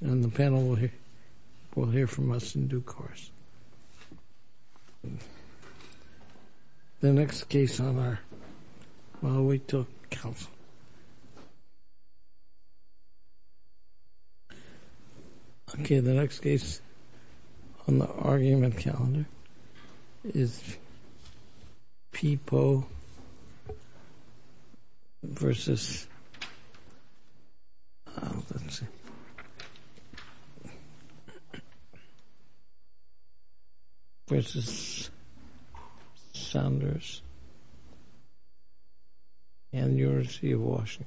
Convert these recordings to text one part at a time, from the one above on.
And the panel will hear from us in due course. The next case on our... I'll wait till council. Okay, the next case on the argument calendar is P Poe versus... Let's see. ...versus Saunders and University of Washington.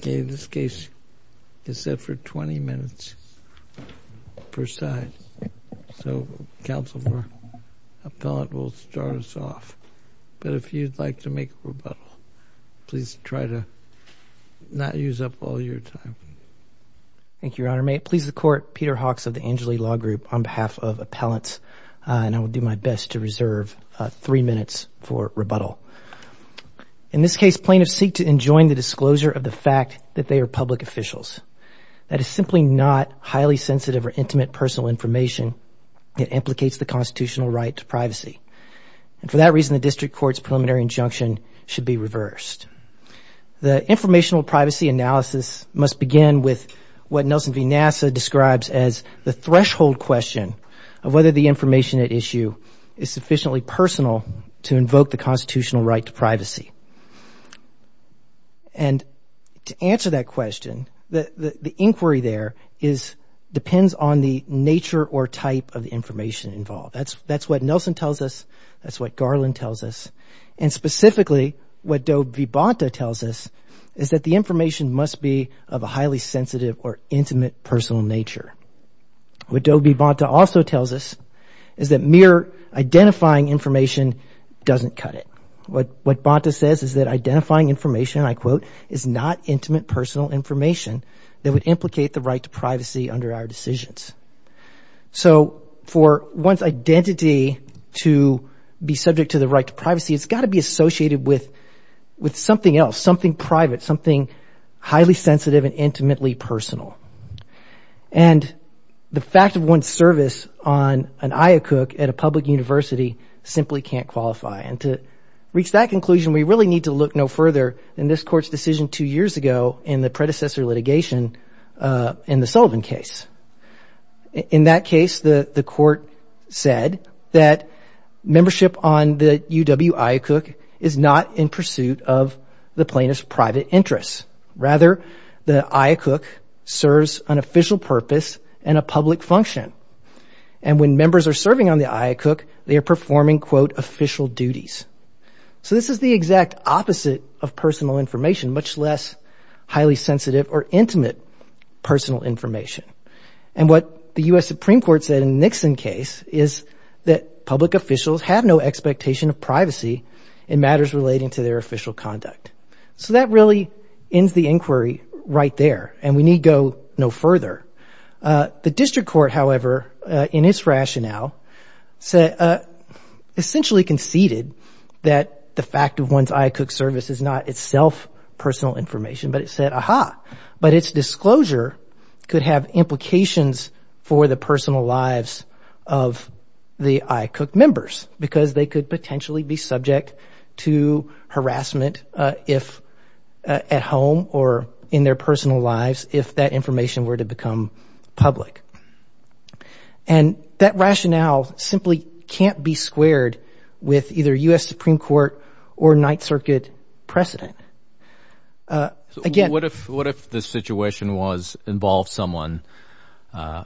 Okay, this case is set for 20 minutes per side. So, council for appellate will start us off. But if you'd like to make a rebuttal, please try to not use up all your time. Thank you, Your Honor. May it please the Court, Peter Hawks of the Angeli Law Group on behalf of appellants. And I will do my best to reserve three minutes for rebuttal. In this case, plaintiffs seek to enjoin the disclosure of the fact that they are public officials. That is simply not highly sensitive or intimate personal information. It implicates the constitutional right to privacy. And for that reason, the district court's preliminary injunction should be reversed. The informational privacy analysis must begin with what Nelson V. Nassa describes as the threshold question of whether the information at issue is sufficiently personal to invoke the constitutional right to privacy. And to answer that question, the inquiry there depends on the nature or type of the information involved. That's what Nelson tells us. That's what Garland tells us. And specifically, what Doe v. Bonta tells us is that the information must be of a highly sensitive or intimate personal nature. What Doe v. Bonta also tells us is that mere identifying information doesn't cut it. What Bonta says is that identifying information, I quote, is not intimate personal information that would implicate the right to privacy under our decisions. So for one's identity to be subject to the right to privacy has got to be associated with something else, something private, something highly sensitive and intimately personal. And the fact of one's service on an IACUC at a public university simply can't qualify. And to reach that conclusion, we really need to look no further in this court's decision two years ago in the predecessor litigation in the Sullivan case. In that case, the court said that membership on the UW IACUC is not in pursuit of the plaintiff's private interests. Rather, the IACUC serves an official purpose and a public function. And when members are serving on the IACUC, they are performing, quote, official duties. So this is the exact opposite of personal information, much less highly sensitive or intimate personal information. And what the U.S. Supreme Court said in the Nixon case is that public officials have no expectation of privacy in matters relating to their official conduct. So that really ends the inquiry right there, and we need go no further. The district court, however, in its rationale, said, essentially conceded that the fact of one's IACUC service is not itself personal information, but it said, aha, but its disclosure could have implications for the personal lives of the IACUC members because they could potentially be subject to harassment at home or in their personal lives if that information were to become public. And that rationale simply can't be squared with either U.S. Supreme Court or Ninth Circuit precedent. So what if the situation involves someone, an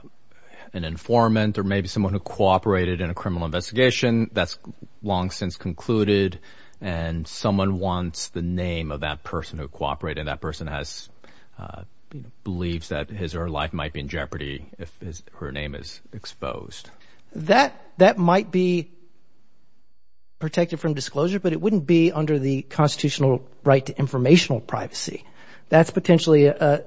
informant or maybe someone who cooperated in a criminal investigation that's long since concluded and someone wants the name of that person who cooperated, that person has beliefs that his or her life might be in jeopardy if her name is exposed? That might be protected from disclosure, but it wouldn't be under the constitutional right to informational privacy. That's potentially a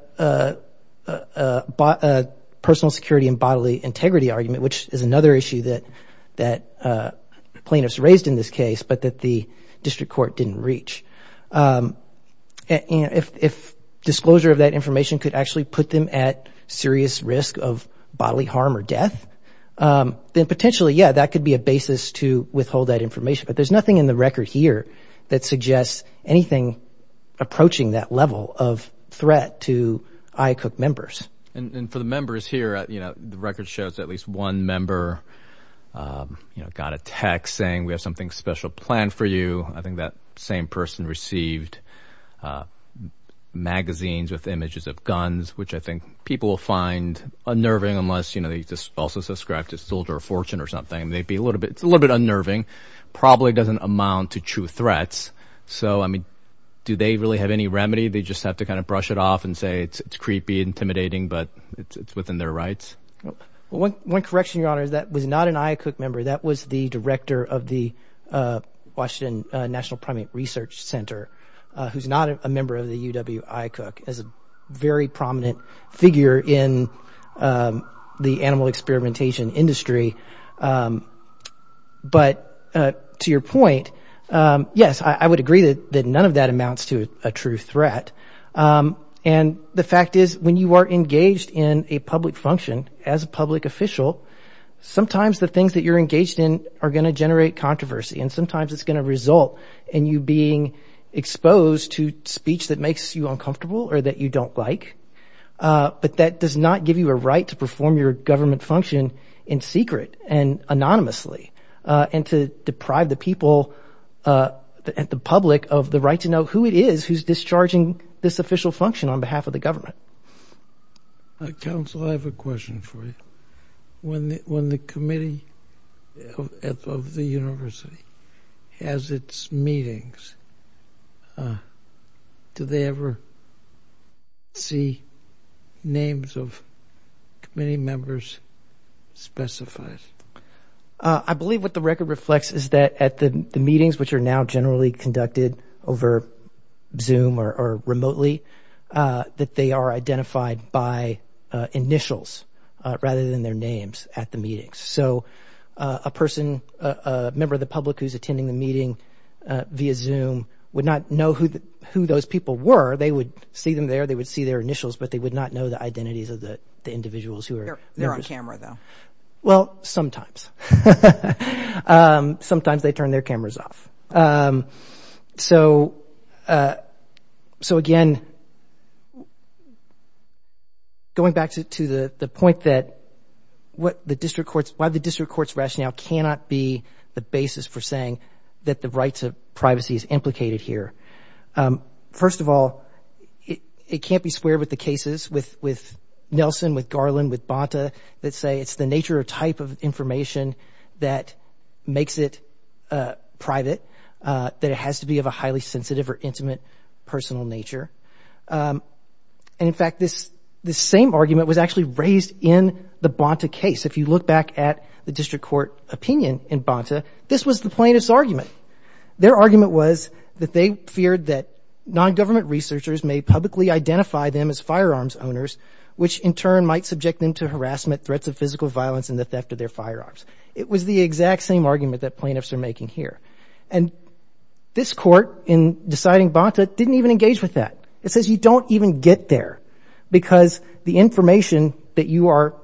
personal security and bodily integrity argument, which is another issue that plaintiffs raised in this case, but that the district court didn't reach. If disclosure of that information could actually put them at serious risk of bodily harm or death, then potentially, yeah, that could be a basis to withhold that information. But there's nothing in the record here that suggests anything approaching that level of threat to IACUC members. And for the members here, the record shows at least one member got a text saying we have something special planned for you. I think that same person received magazines with images of guns, which I think people will find unnerving unless they also subscribe to Zolder or Fortune or something. It's a little bit unnerving. Probably doesn't amount to true threats. So, I mean, do they really have any remedy? They just have to kind of brush it off and say it's creepy, intimidating, but it's within their rights? One correction, Your Honor, is that was not an IACUC member. That was the director of the Washington National Primate Research Center who's not a member of the UW IACUC as a very prominent figure in the animal experimentation industry. But to your point, yes, I would agree that none of that amounts to a true threat. And the fact is when you are engaged in a public function as a public official, sometimes the things that you're engaged in are going to generate controversy and sometimes it's going to result in you being exposed to speech that makes you uncomfortable or that you don't like. But that does not give you a right to perform your government function in secret and anonymously and to deprive the people at the public of the right to know who it is who's discharging this official function on behalf of the government. Counsel, I have a question for you. When the committee of the university has its meetings, do they ever see names of committee members specified? I believe what the record reflects is that at the meetings, which are now generally conducted over Zoom or remotely, that they are identified by initials rather than their names at the meetings. So a person, a member of the public who's attending the meeting via Zoom would not know who those people were. They would see them there. They would see their initials, but they would not know the identities of the individuals who are there. They're on camera, though. Well, sometimes. Sometimes they turn their cameras off. So again, going back to the point that why the district court's rationale cannot be the basis for saying that the right to privacy is implicated here. First of all, it can't be squared with the cases with Nelson, with Garland, with Bonta that say it's the nature or type of information that makes it private, that it has to be of a highly sensitive or intimate personal nature. And in fact, this same argument was actually raised in the Bonta case. If you look back at the district court opinion in Bonta, this was the plaintiff's argument. Their argument was that they feared that nongovernment researchers may publicly identify them as firearms owners, which in turn might subject them to harassment, threats of physical violence, and the theft of their firearms. It was the exact same argument that plaintiffs are making here. And this court, in deciding Bonta, didn't even engage with that. It says you don't even get there because the information that you are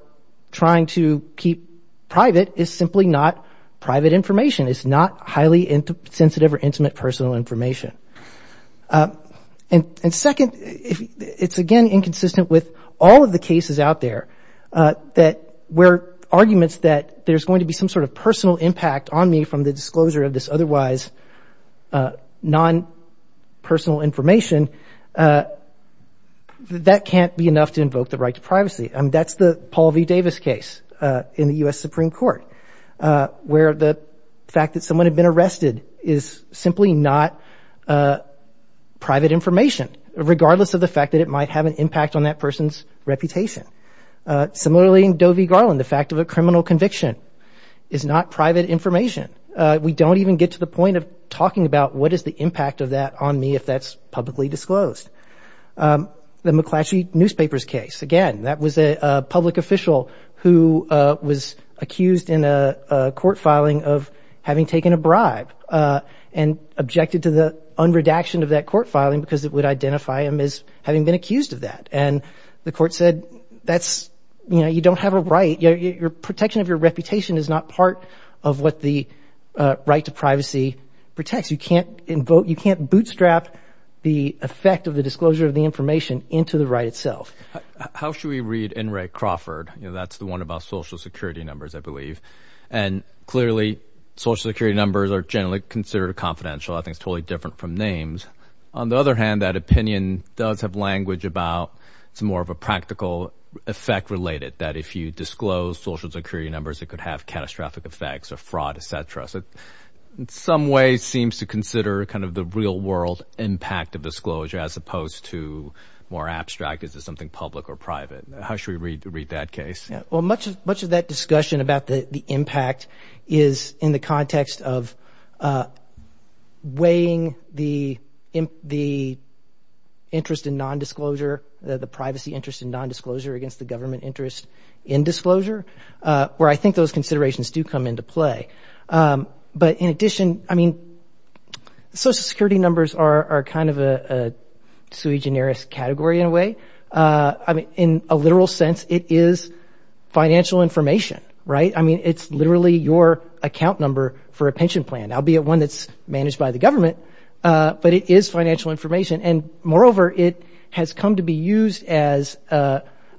trying to keep private is simply not private information. It's not highly sensitive or intimate personal information. And second, it's again inconsistent with all of the cases out there where arguments that there's going to be some sort of personal impact on me from the disclosure of this otherwise non-personal information, that can't be enough to invoke the right to privacy. I mean, that's the Paul V. Davis case in the U.S. Supreme Court, where the fact that someone had been arrested is simply not private information, regardless of the fact that it might have an impact on that person's reputation. Similarly, in Doe v. Garland, the fact of a criminal conviction is not private information. We don't even get to the point of talking about what is the impact of that on me if that's publicly disclosed. The McClatchy Newspapers case, again, that was a public official who was accused in a court filing of having taken a bribe and objected to the unredaction of that court filing because it would identify him as having been accused of that. And the court said, that's, you know, you don't have a right. Your protection of your reputation is not part of what the right to privacy protects. You can't bootstrap the effect of the disclosure of the information into the right itself. How should we read N. Ray Crawford? You know, that's the one about Social Security numbers, I believe. And clearly, Social Security numbers are generally considered confidential. I think it's totally different from names. On the other hand, that opinion does have language about it's more of a practical effect related, that if you disclose Social Security numbers, it could have catastrophic effects or fraud, et cetera. So in some ways, it seems to consider kind of the real-world impact of disclosure as opposed to more abstract, is it something public or private? How should we read that case? Well, much of that discussion about the impact is in the context of weighing the interest in nondisclosure, the privacy interest in nondisclosure against the government interest in disclosure, where I think those considerations do come into play. But in addition, I mean, Social Security numbers are kind of a sui generis category in a way. I mean, in a literal sense, it is financial information, right? I mean, it's literally your account number for a pension plan, albeit one that's managed by the government, but it is financial information. And moreover, it has come to be used as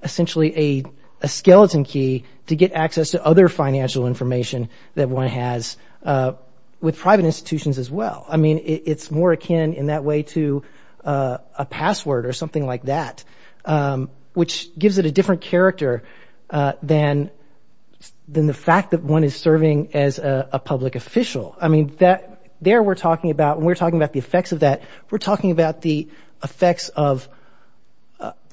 essentially a skeleton key to get access to other financial information that one has with private institutions as well. I mean, it's more akin in that way to a password or something like that, which gives it a different character than the fact that one is serving as a public official. I mean, there we're talking about, when we're talking about the effects of that, we're talking about the effects of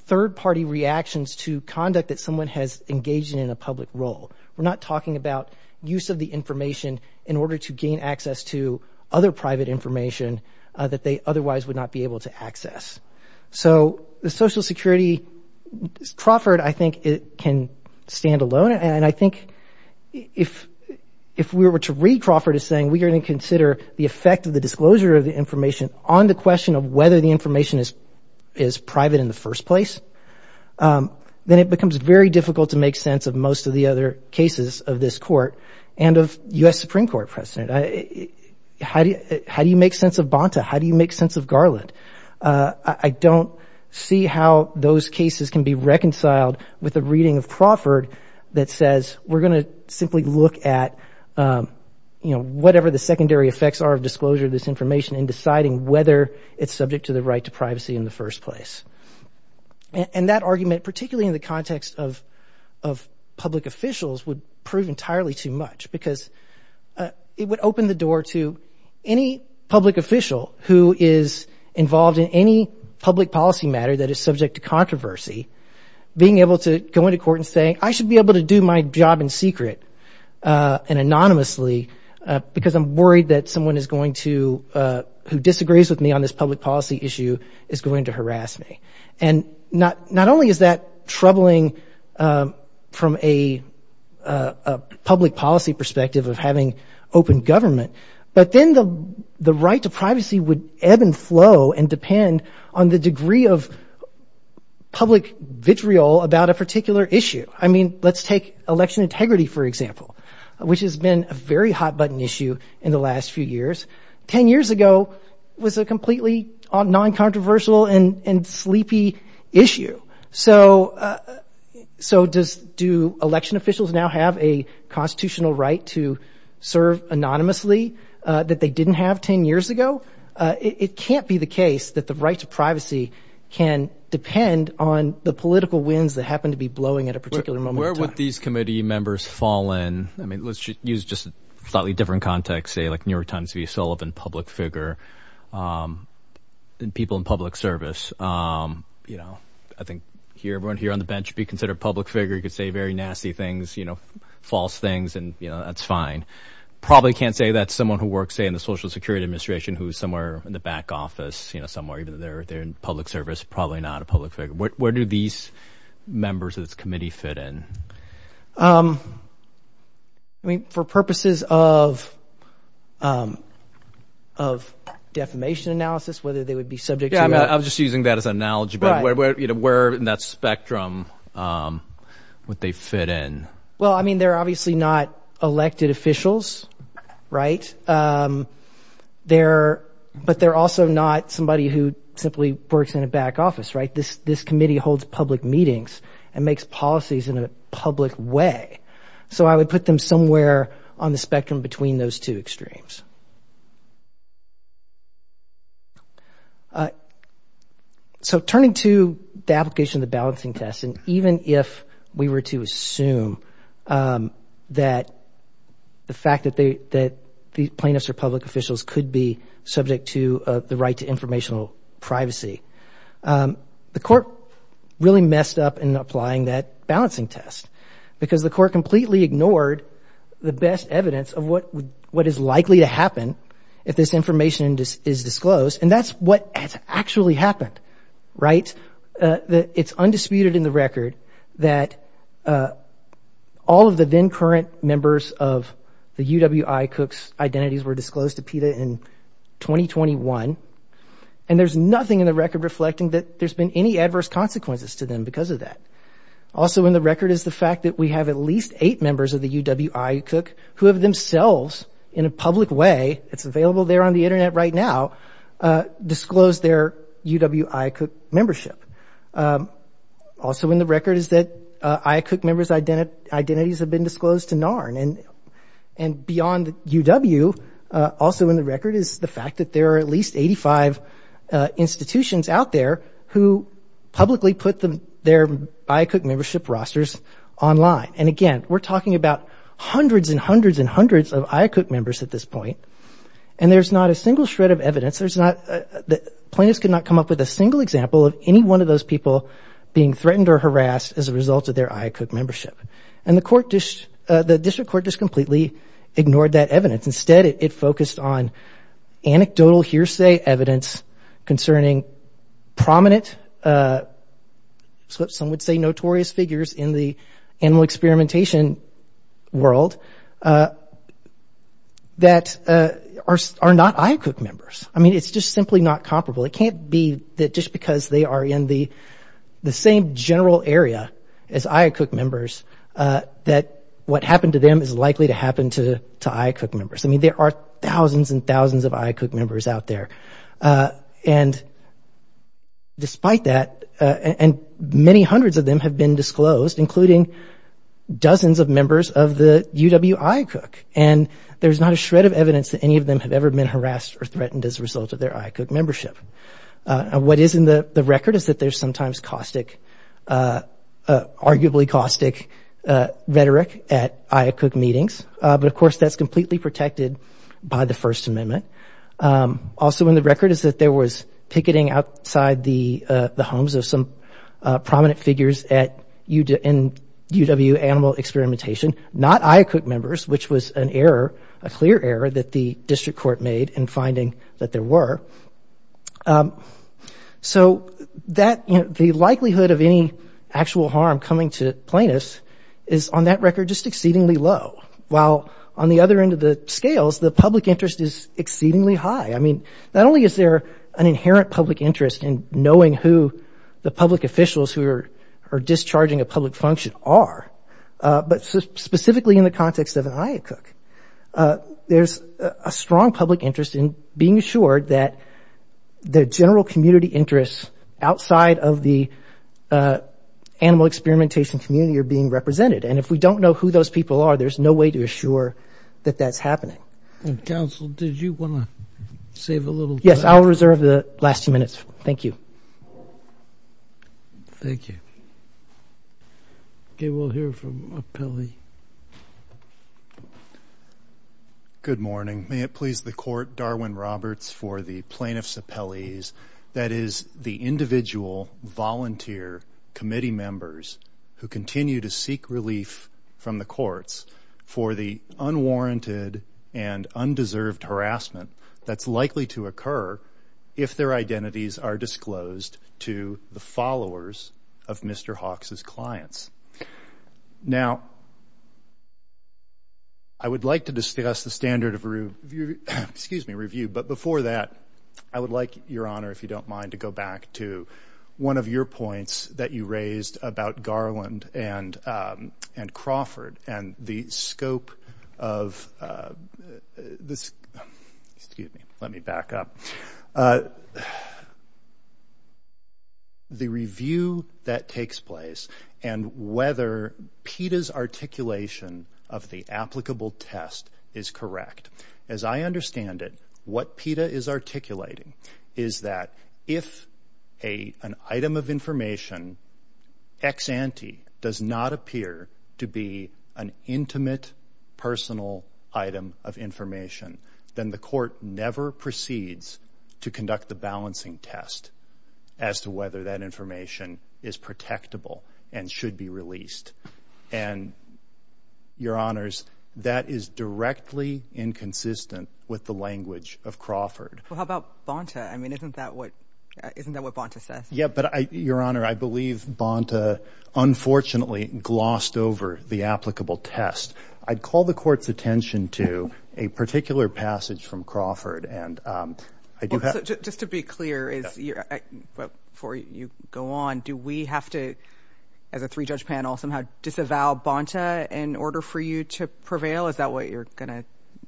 third-party reactions to conduct that someone has engaged in in a public role. We're not talking about use of the information in order to gain access to other private information that they otherwise would not be able to access. So the Social Security, Crawford, I think, can stand alone. And I think if we were to read Crawford as saying, we're going to consider the effect of the disclosure of the information on the question of whether the information is private in the first place, then it becomes very difficult to make sense of most of the other cases of this Court and of U.S. Supreme Court precedent. How do you make sense of Bonta? How do you make sense of Garland? I don't see how those cases can be reconciled with a reading of Crawford that says, we're going to simply look at, you know, whatever the secondary effects are of disclosure of this information in deciding whether it's subject to the right to privacy in the first place. And that argument, particularly in the context of public officials, would prove entirely too much because it would open the door to any public official who is involved in any public policy matter that is subject to controversy, being able to go into court and say, I should be able to do my job in secret and anonymously because I'm worried that someone who disagrees with me on this public policy issue is going to harass me. And not only is that troubling from a public policy perspective of having open government, but then the right to privacy would ebb and flow and depend on the degree of public vitriol about a particular issue. I mean, let's take election integrity, for example, which has been a very hot-button issue in the last few years. Ten years ago, it was a completely non-controversial and sleepy issue. So do election officials now have a constitutional right to serve anonymously that they didn't have ten years ago? It can't be the case that the right to privacy can depend on the political winds that happen to be blowing at a particular moment in time. Where do these committee members fall in? I mean, let's use just a slightly different context, say like New York Times' V. Sullivan public figure, and people in public service. I think everyone here on the bench would be considered a public figure. You could say very nasty things, false things, and that's fine. Probably can't say that someone who works, say, in the Social Security Administration who is somewhere in the back office, somewhere even though they're in public service, probably not a public figure. Where do these members of this committee fit in? I mean, for purposes of defamation analysis, whether they would be subject to— Yeah, I'm just using that as an analogy, but where in that spectrum would they fit in? Well, I mean, they're obviously not elected officials, right? But they're also not somebody who simply works in a back office, right? This committee holds public meetings and makes policies in a public way. So I would put them somewhere on the spectrum between those two extremes. So turning to the application of the balancing test, and even if we were to assume that the fact that the plaintiffs are public officials could be subject to the right to informational privacy, the court really messed up in applying that balancing test because the court completely ignored the best evidence of what is likely to happen if this information is disclosed, and that's what has actually happened, right? It's undisputed in the record that all of the then-current members of the UWI Cooks identities were disclosed to PETA in 2021, and there's nothing in the record reflecting that there's been any adverse consequences to them because of that. Also in the record is the fact that we have at least eight members of the UWI Cook who have themselves, in a public way—it's available there on the Internet right now— disclosed their UWI Cook membership. Also in the record is that IACUC members' identities have been disclosed to NARN, and beyond UW, also in the record is the fact that there are at least 85 institutions out there who publicly put their IACUC membership rosters online. And again, we're talking about hundreds and hundreds and hundreds of IACUC members at this point, and there's not a single shred of evidence. There's not—the plaintiffs could not come up with a single example of any one of those people being threatened or harassed as a result of their IACUC membership. And the court—the district court just completely ignored that evidence. Instead, it focused on anecdotal hearsay evidence concerning prominent— some would say notorious figures in the animal experimentation world that are not IACUC members. I mean, it's just simply not comparable. It can't be that just because they are in the same general area as IACUC members that what happened to them is likely to happen to IACUC members. I mean, there are thousands and thousands of IACUC members out there. And despite that—and many hundreds of them have been disclosed, including dozens of members of the UW IACUC, and there's not a shred of evidence that any of them have ever been harassed or threatened as a result of their IACUC membership. What is in the record is that there's sometimes caustic— arguably caustic rhetoric at IACUC meetings, but, of course, that's completely protected by the First Amendment. Also in the record is that there was picketing outside the homes of some prominent figures at UW Animal Experimentation, not IACUC members, which was an error, a clear error that the district court made in finding that there were. So that—the likelihood of any actual harm coming to plaintiffs is on that record just exceedingly low, while on the other end of the scales, the public interest is exceedingly high. I mean, not only is there an inherent public interest in knowing who the public officials who are discharging a public function are, but specifically in the context of an IACUC, there's a strong public interest in being assured that the general community interests outside of the animal experimentation community are being represented, and if we don't know who those people are, there's no way to assure that that's happening. And, counsel, did you want to save a little time? Yes, I'll reserve the last few minutes. Thank you. Thank you. Okay, we'll hear from an appellee. Good morning. May it please the Court, Darwin Roberts for the plaintiffs' appellees, that is, the individual volunteer committee members who continue to seek relief from the courts for the unwarranted and undeserved harassment that's likely to occur if their identities are disclosed to the followers of Mr. Hawks' clients. Now, I would like to discuss the standard of review, but before that, I would like, Your Honor, if you don't mind, to go back to one of your points that you raised about Garland and Crawford and the scope of this... Excuse me. Let me back up. The review that takes place and whether PETA's articulation of the applicable test is correct. As I understand it, what PETA is articulating is that if an item of information, ex ante, does not appear to be an intimate, personal item of information, then the court never proceeds to conduct the balancing test as to whether that information is protectable and should be released. And, Your Honors, that is directly inconsistent with the language of Crawford. Well, how about Bonta? I mean, isn't that what Bonta says? Yeah, but, Your Honor, I believe Bonta, unfortunately, glossed over the applicable test. I'd call the court's attention to a particular passage from Crawford. Just to be clear, before you go on, do we have to, as a three-judge panel, somehow disavow Bonta in order for you to prevail? Is that what you're going to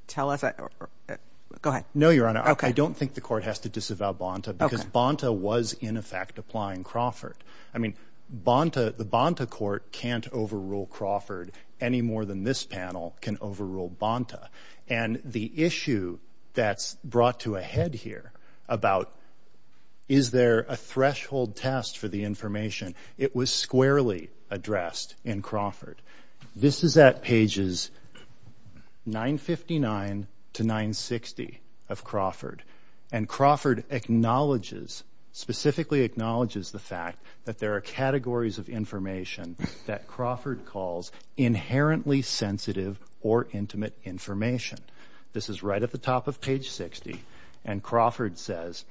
tell us? Go ahead. No, Your Honor. I don't think the court has to disavow Bonta because Bonta was, in effect, applying Crawford. I mean, the Bonta court can't overrule Crawford any more than this panel can overrule Bonta. And the issue that's brought to a head here about is there a threshold test for the information, it was squarely addressed in Crawford. This is at pages 959 to 960 of Crawford, and Crawford acknowledges, specifically acknowledges, the fact that there are categories of information that Crawford calls inherently sensitive or intimate information. This is right at the top of page 60, and Crawford says,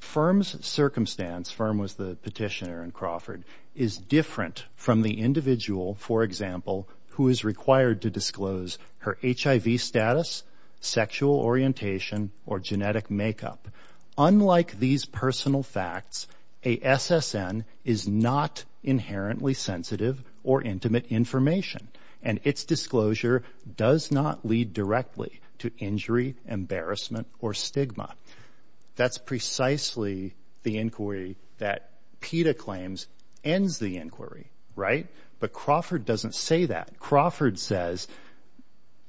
firm's circumstance, firm was the petitioner in Crawford, is different from the individual, for example, who is required to disclose her HIV status, sexual orientation, or genetic makeup. Unlike these personal facts, a SSN is not inherently sensitive or intimate information, and its disclosure does not lead directly to injury, embarrassment, or stigma. That's precisely the inquiry that PETA claims ends the inquiry, right? But Crawford doesn't say that. Crawford says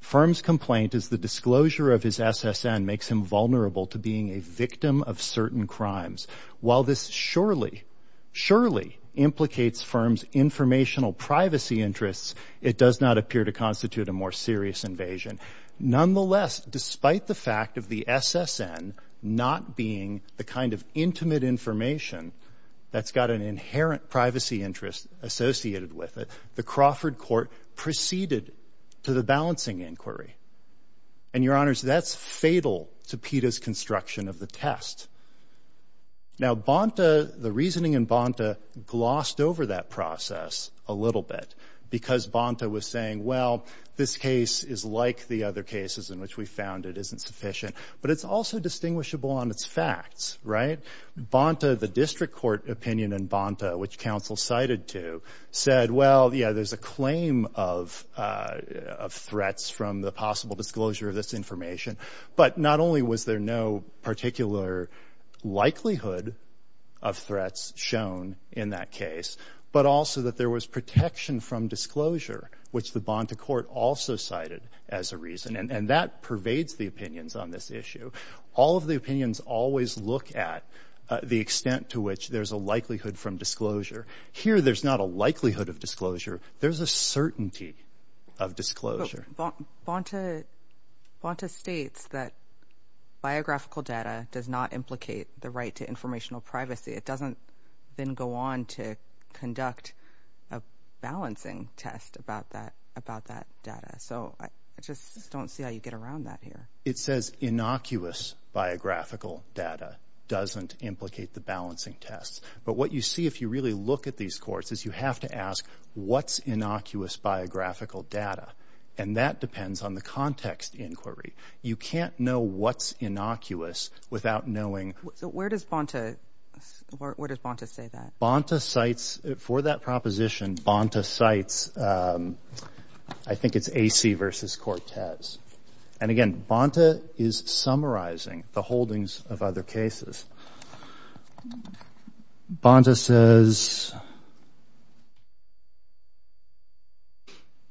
firm's complaint is the disclosure of his SSN makes him vulnerable to being a victim of certain crimes. While this surely, surely implicates firm's informational privacy interests, it does not appear to constitute a more serious invasion. Nonetheless, despite the fact of the SSN not being the kind of intimate information that's got an inherent privacy interest associated with it, the Crawford court proceeded to the balancing inquiry. And, Your Honors, that's fatal to PETA's construction of the test. Now, Bonta, the reasoning in Bonta, glossed over that process a little bit because Bonta was saying, well, this case is like the other cases in which we found it isn't sufficient, but it's also distinguishable on its facts, right? Bonta, the district court opinion in Bonta, which counsel cited to, said, well, yeah, there's a claim of threats from the possible disclosure of this information, but not only was there no particular likelihood of threats shown in that case, but also that there was protection from disclosure, which the Bonta court also cited as a reason. And that pervades the opinions on this issue. All of the opinions always look at the extent to which there's a likelihood from disclosure. Here, there's not a likelihood of disclosure. There's a certainty of disclosure. But Bonta states that biographical data does not implicate the right to informational privacy. It doesn't then go on to conduct a balancing test about that data. So I just don't see how you get around that here. It says innocuous biographical data doesn't implicate the balancing test. But what you see if you really look at these courts is you have to ask what's innocuous biographical data, and that depends on the context inquiry. You can't know what's innocuous without knowing. So where does Bonta say that? Bonta cites, for that proposition, Bonta cites, I think it's Acey v. Cortez. And again, Bonta is summarizing the holdings of other cases. Bonta says,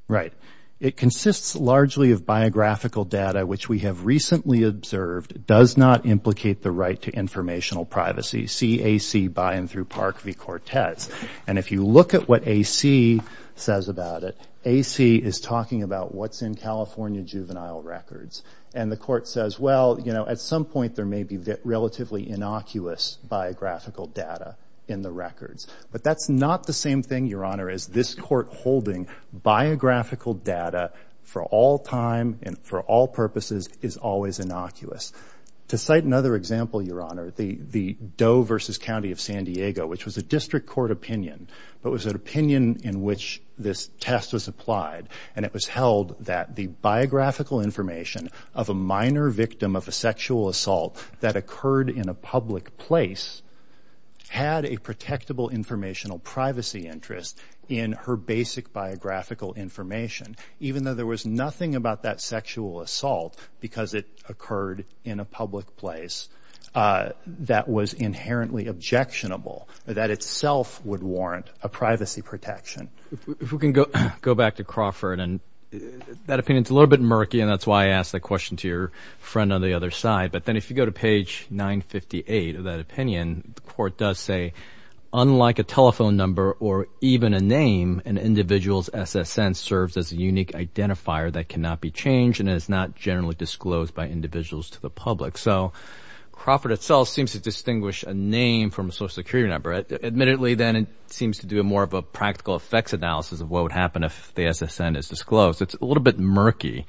right, it consists largely of biographical data which we have recently observed does not implicate the right to informational privacy, see Acey by and through Park v. Cortez. And if you look at what Acey says about it, Acey is talking about what's in California juvenile records. And the court says, well, you know, at some point there may be relatively innocuous biographical data in the records. But that's not the same thing, Your Honor, as this court holding biographical data for all time and for all purposes is always innocuous. To cite another example, Your Honor, the Doe v. County of San Diego, which was a district court opinion, but was an opinion in which this test was applied, and it was held that the biographical information of a minor victim of a sexual assault that occurred in a public place had a protectable informational privacy interest in her basic biographical information, even though there was nothing about that sexual assault because it occurred in a public place that was inherently objectionable, that itself would warrant a privacy protection. If we can go back to Crawford, and that opinion is a little bit murky, and that's why I asked that question to your friend on the other side. But then if you go to page 958 of that opinion, the court does say, unlike a telephone number or even a name, an individual's SSN serves as a unique identifier that cannot be changed and is not generally disclosed by individuals to the public. So Crawford itself seems to distinguish a name from a Social Security number. Admittedly, then, it seems to do more of a practical effects analysis of what would happen if the SSN is disclosed. It's a little bit murky,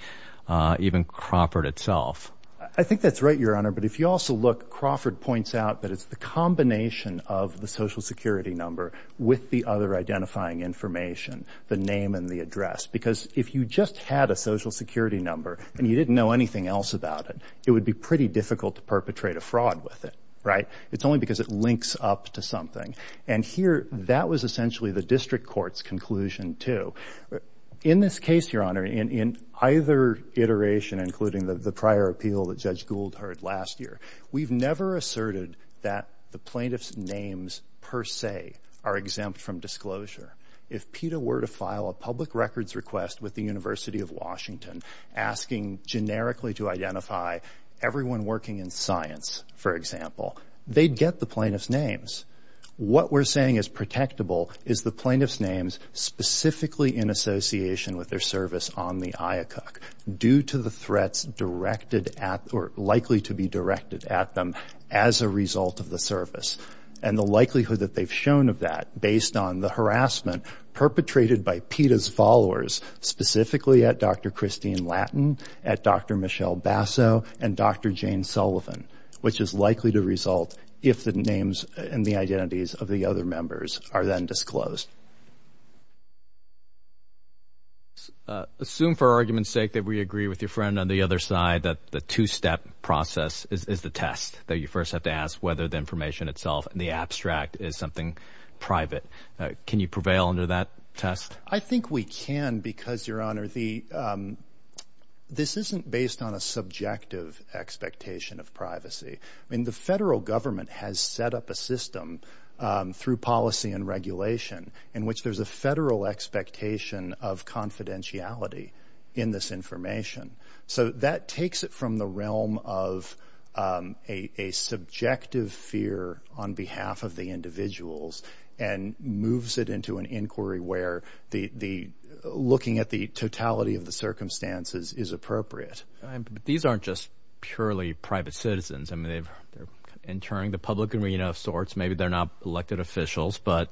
even Crawford itself. I think that's right, Your Honor. But if you also look, Crawford points out that it's the combination of the Social Security number with the other identifying information, the name and the address. Because if you just had a Social Security number and you didn't know anything else about it, it would be pretty difficult to perpetrate a fraud with it, right? It's only because it links up to something. And here, that was essentially the district court's conclusion, too. In this case, Your Honor, in either iteration, including the prior appeal that Judge Gould heard last year, we've never asserted that the plaintiff's names per se are exempt from disclosure. If PETA were to file a public records request with the University of Washington asking generically to identify everyone working in science, for example, they'd get the plaintiff's names. What we're saying is protectable is the plaintiff's names specifically in association with their service on the IACUC due to the threats likely to be directed at them as a result of the service and the likelihood that they've shown of that based on the harassment perpetrated by PETA's followers, specifically at Dr. Christine Lattin, at Dr. Michelle Basso, and Dr. Jane Sullivan, which is likely to result if the names and the identities of the other members are then disclosed. Assume for argument's sake that we agree with your friend on the other side that the two-step process is the test, that you first have to ask whether the information itself and the abstract is something private. Can you prevail under that test? I think we can because, Your Honor, this isn't based on a subjective expectation of privacy. I mean, the federal government has set up a system through policy and regulation in which there's a federal expectation of confidentiality in this information. So that takes it from the realm of a subjective fear on behalf of the individuals and moves it into an inquiry where looking at the totality of the circumstances is appropriate. These aren't just purely private citizens. I mean, they're entering the public arena of sorts. Maybe they're not elected officials, but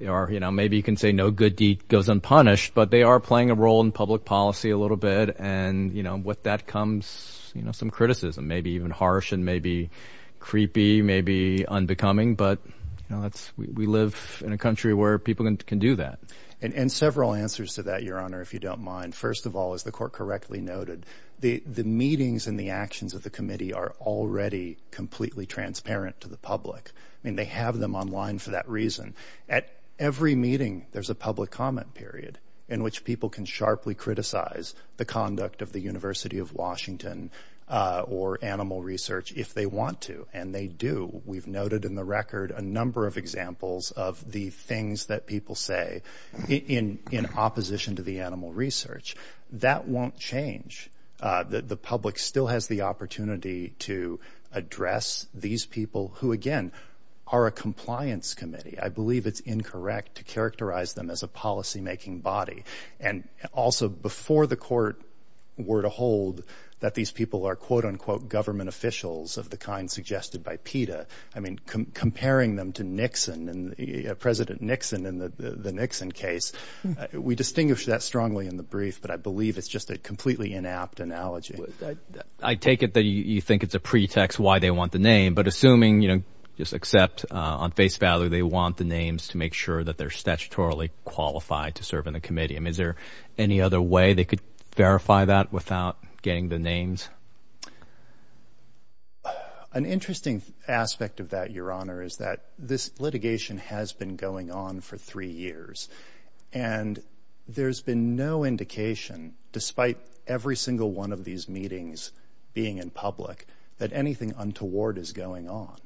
maybe you can say no good deed goes unpunished, but they are playing a role in public policy a little bit, and with that comes some criticism, maybe even harsh and maybe creepy, maybe unbecoming. But, you know, we live in a country where people can do that. And several answers to that, Your Honor, if you don't mind. First of all, as the Court correctly noted, the meetings and the actions of the committee are already completely transparent to the public. I mean, they have them online for that reason. At every meeting there's a public comment period in which people can sharply criticize the conduct of the University of Washington or animal research if they want to, and they do. We've noted in the record a number of examples of the things that people say in opposition to the animal research. That won't change. The public still has the opportunity to address these people who, again, are a compliance committee. I believe it's incorrect to characterize them as a policymaking body. And also, before the Court were to hold that these people are, quote-unquote, government officials of the kind suggested by PETA, I mean, comparing them to Nixon, President Nixon in the Nixon case, we distinguish that strongly in the brief, but I believe it's just a completely inapt analogy. I take it that you think it's a pretext why they want the name, but assuming, you know, just accept on face value they want the names to make sure that they're statutorily qualified to serve in the committee. I mean, is there any other way they could verify that without getting the names? An interesting aspect of that, Your Honor, is that this litigation has been going on for three years, and there's been no indication, despite every single one of these meetings being in public, that anything untoward is going on.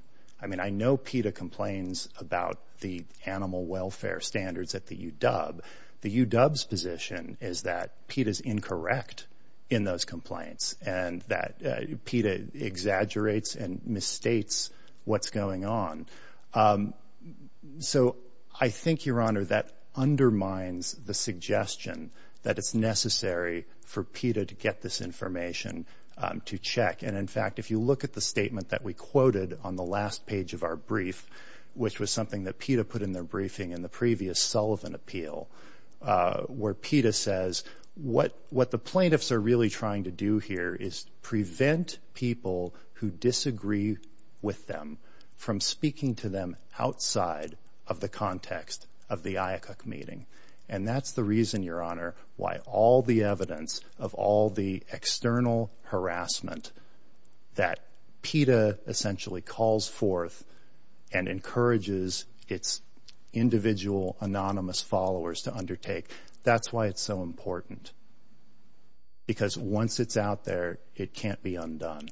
I mean, I know PETA complains about the animal welfare standards at the UW. The UW's position is that PETA's incorrect in those complaints and that PETA exaggerates and misstates what's going on. So I think, Your Honor, that undermines the suggestion that it's necessary for PETA to get this information to check. And, in fact, if you look at the statement that we quoted on the last page of our brief, which was something that PETA put in their briefing in the previous Sullivan appeal, where PETA says what the plaintiffs are really trying to do here is prevent people who disagree with them from speaking to them outside of the context of the IACUC meeting. And that's the reason, Your Honor, why all the evidence of all the external harassment that PETA essentially calls forth and encourages its individual anonymous followers to undertake, that's why it's so important, because once it's out there, it can't be undone.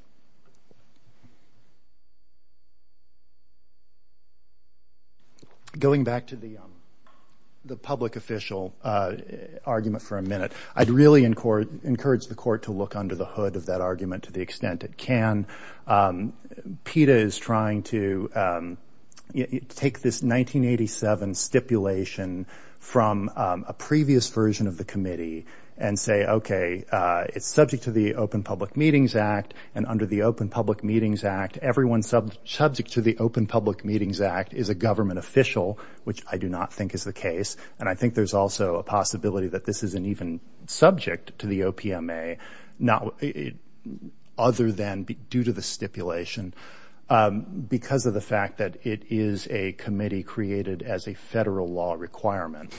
Going back to the public official argument for a minute, I'd really encourage the Court to look under the hood of that argument to the extent it can. PETA is trying to take this 1987 stipulation from a previous version of the committee and say, okay, it's subject to the Open Public Meetings Act, and under the Open Public Meetings Act, everyone subject to the Open Public Meetings Act is a government official, which I do not think is the case. And I think there's also a possibility that this isn't even subject to the OPMA, other than due to the stipulation, because of the fact that it is a committee created as a federal law requirement.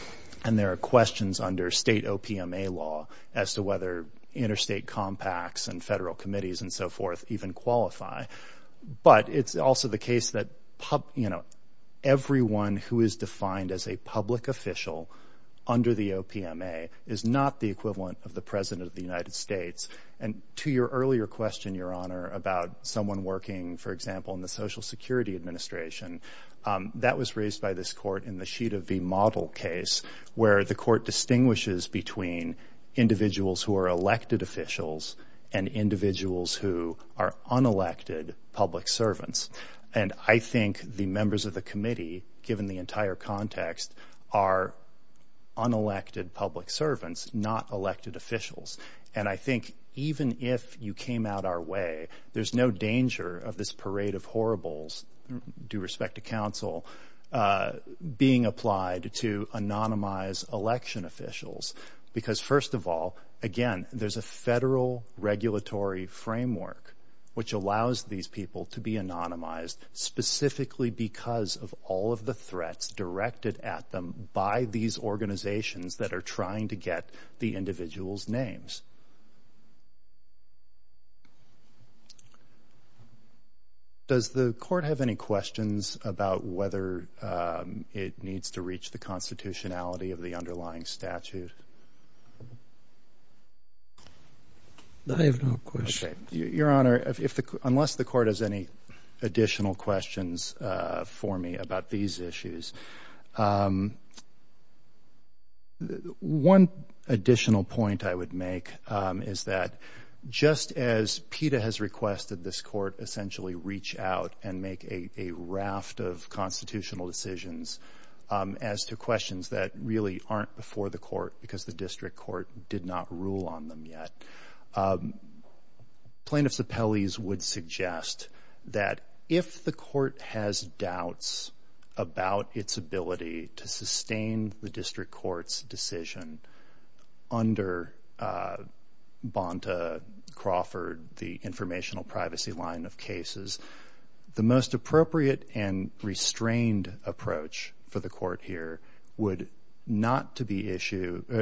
And there are questions under state OPMA law as to whether interstate compacts and federal committees and so forth even qualify. But it's also the case that, you know, everyone who is defined as a public official under the OPMA is not the equivalent of the President of the United States. And to your earlier question, Your Honor, about someone working, for example, in the Social Security Administration, that was raised by this court in the Sheet of V Model case, where the court distinguishes between individuals who are elected officials and individuals who are unelected public servants. And I think the members of the committee, given the entire context, are unelected public servants, not elected officials. And I think even if you came out our way, there's no danger of this parade of horribles, due respect to counsel, being applied to anonymize election officials. Because, first of all, again, there's a federal regulatory framework which allows these people to be anonymized, specifically because of all of the threats directed at them by these organizations that are trying to get the individual's names. Does the court have any questions about whether it needs to reach the constitutionality of the underlying statute? I have no questions. Your Honor, unless the court has any additional questions for me about these issues, one additional point I would make is that just as PETA has requested this court essentially reach out and make a raft of constitutional decisions as to questions that really aren't before the court, because the district court did not rule on them yet. Plaintiffs' appellees would suggest that if the court has doubts about its ability to sustain the district court's decision under Bonta, Crawford, the informational privacy line of cases, the most appropriate and restrained approach for the court here would not to issue a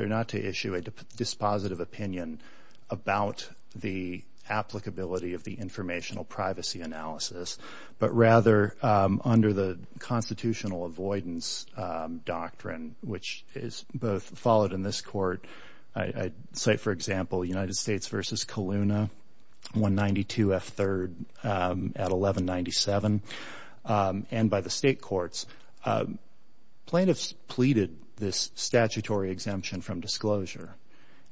dispositive opinion about the applicability of the informational privacy analysis, but rather under the constitutional avoidance doctrine, which is both followed in this court. I cite, for example, United States v. Coluna, 192 F. 3rd at 1197. And by the state courts, plaintiffs pleaded this statutory exemption from disclosure.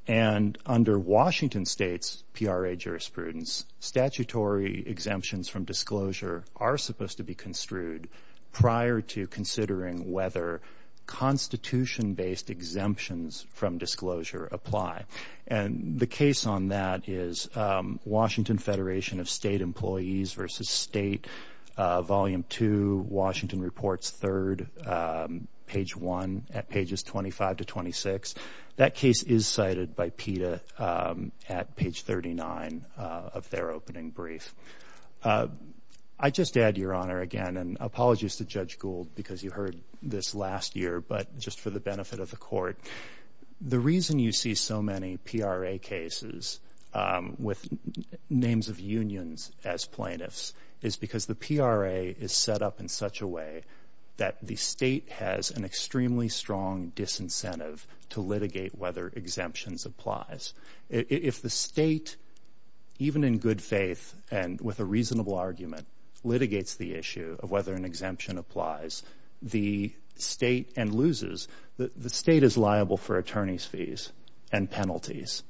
And under Washington state's PRA jurisprudence, statutory exemptions from disclosure are supposed to be construed prior to considering whether constitution-based exemptions from disclosure apply. And the case on that is Washington Federation of State Employees v. State, Volume 2, Washington Reports, 3rd, page 1 at pages 25 to 26. That case is cited by PETA at page 39 of their opening brief. I just add, Your Honor, again, and apologies to Judge Gould because you heard this last year, but just for the benefit of the court, the reason you see so many PRA cases with names of unions as plaintiffs is because the PRA is set up in such a way that the state has an extremely strong disincentive to litigate whether exemptions applies. If the state, even in good faith and with a reasonable argument, litigates the issue of whether an exemption applies, the state is liable for attorney's fees and penalties.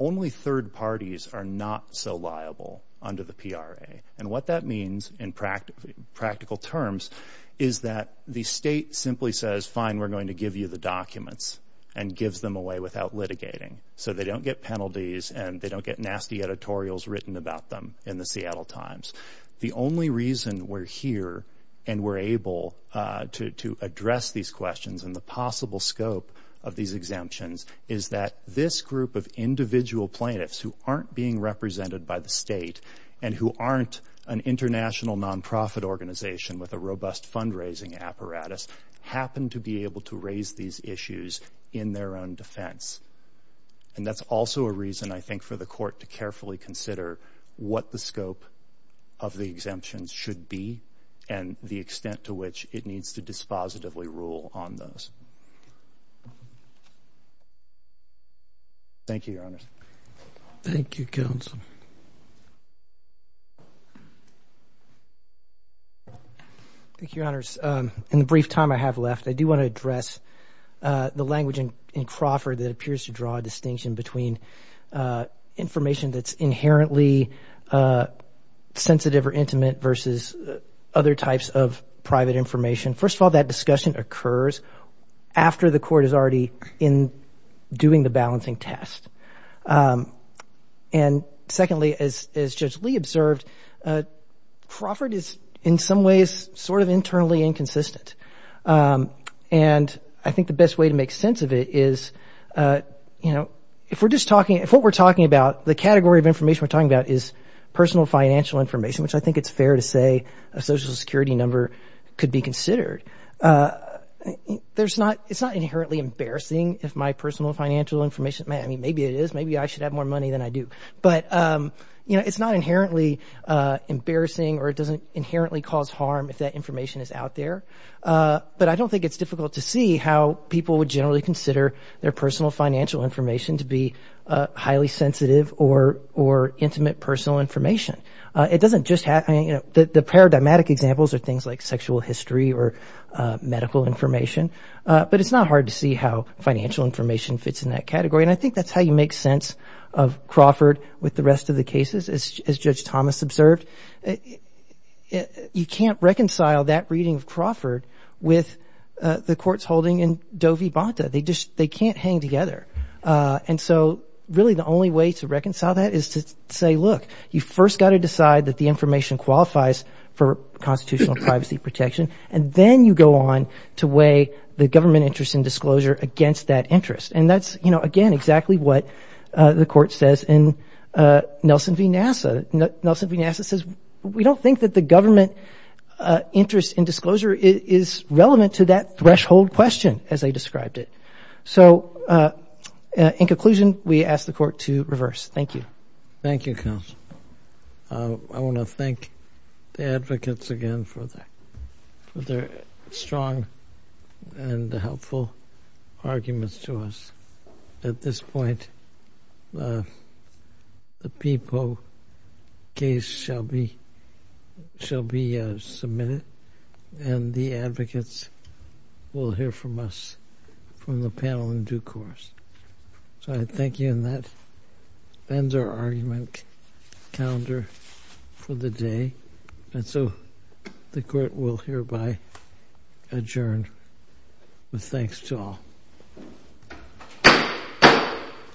Only third parties are not so liable under the PRA. And what that means in practical terms is that the state simply says, fine, we're going to give you the documents and gives them away without litigating. So they don't get penalties and they don't get nasty editorials written about them in the Seattle Times. The only reason we're here and we're able to address these questions and the possible scope of these exemptions is that this group of individual plaintiffs who aren't being represented by the state and who aren't an international nonprofit organization with a robust fundraising apparatus happen to be able to raise these issues in their own defense. And that's also a reason, I think, for the court to carefully consider what the scope of the exemptions should be and the extent to which it needs to dispositively rule on those. Thank you, Your Honors. Thank you, Counsel. Thank you, Your Honors. In the brief time I have left, I do want to address the language in Crawford that appears to draw a distinction between information that's inherently sensitive or intimate versus other types of private information. First of all, that discussion occurs after the court is already doing the balancing test. And secondly, as Judge Lee observed, Crawford is in some ways sort of internally inconsistent. And I think the best way to make sense of it is, you know, if what we're talking about, the category of information we're talking about is personal financial information, which I think it's fair to say a Social Security number could be considered. It's not inherently embarrassing if my personal financial information, I mean, maybe it is, maybe I should have more money than I do, but, you know, it's not inherently embarrassing or it doesn't inherently cause harm if that information is out there. But I don't think it's difficult to see how people would generally consider their personal financial information to be highly sensitive or intimate personal information. It doesn't just happen, you know, the paradigmatic examples are things like sexual history or medical information, but it's not hard to see how financial information fits in that category. And I think that's how you make sense of Crawford with the rest of the cases, as Judge Thomas observed. You can't reconcile that reading of Crawford with the court's holding in Doe v. Bonta. They just, they can't hang together. And so really the only way to reconcile that is to say, look, you first got to decide that the information qualifies for constitutional privacy protection, and then you go on to weigh the government interest in disclosure against that interest. And that's, you know, again, exactly what the court says in Nelson v. NASA. Nelson v. NASA says we don't think that the government interest in disclosure is relevant to that threshold question as they described it. So in conclusion, we ask the court to reverse. Thank you. Thank you, counsel. I want to thank the advocates again for their strong and helpful arguments to us. At this point, the PIPO case shall be submitted, and the advocates will hear from us from the panel in due course. So I thank you, and that ends our argument calendar for the day. And so the court will hereby adjourn with thanks to all. All rise.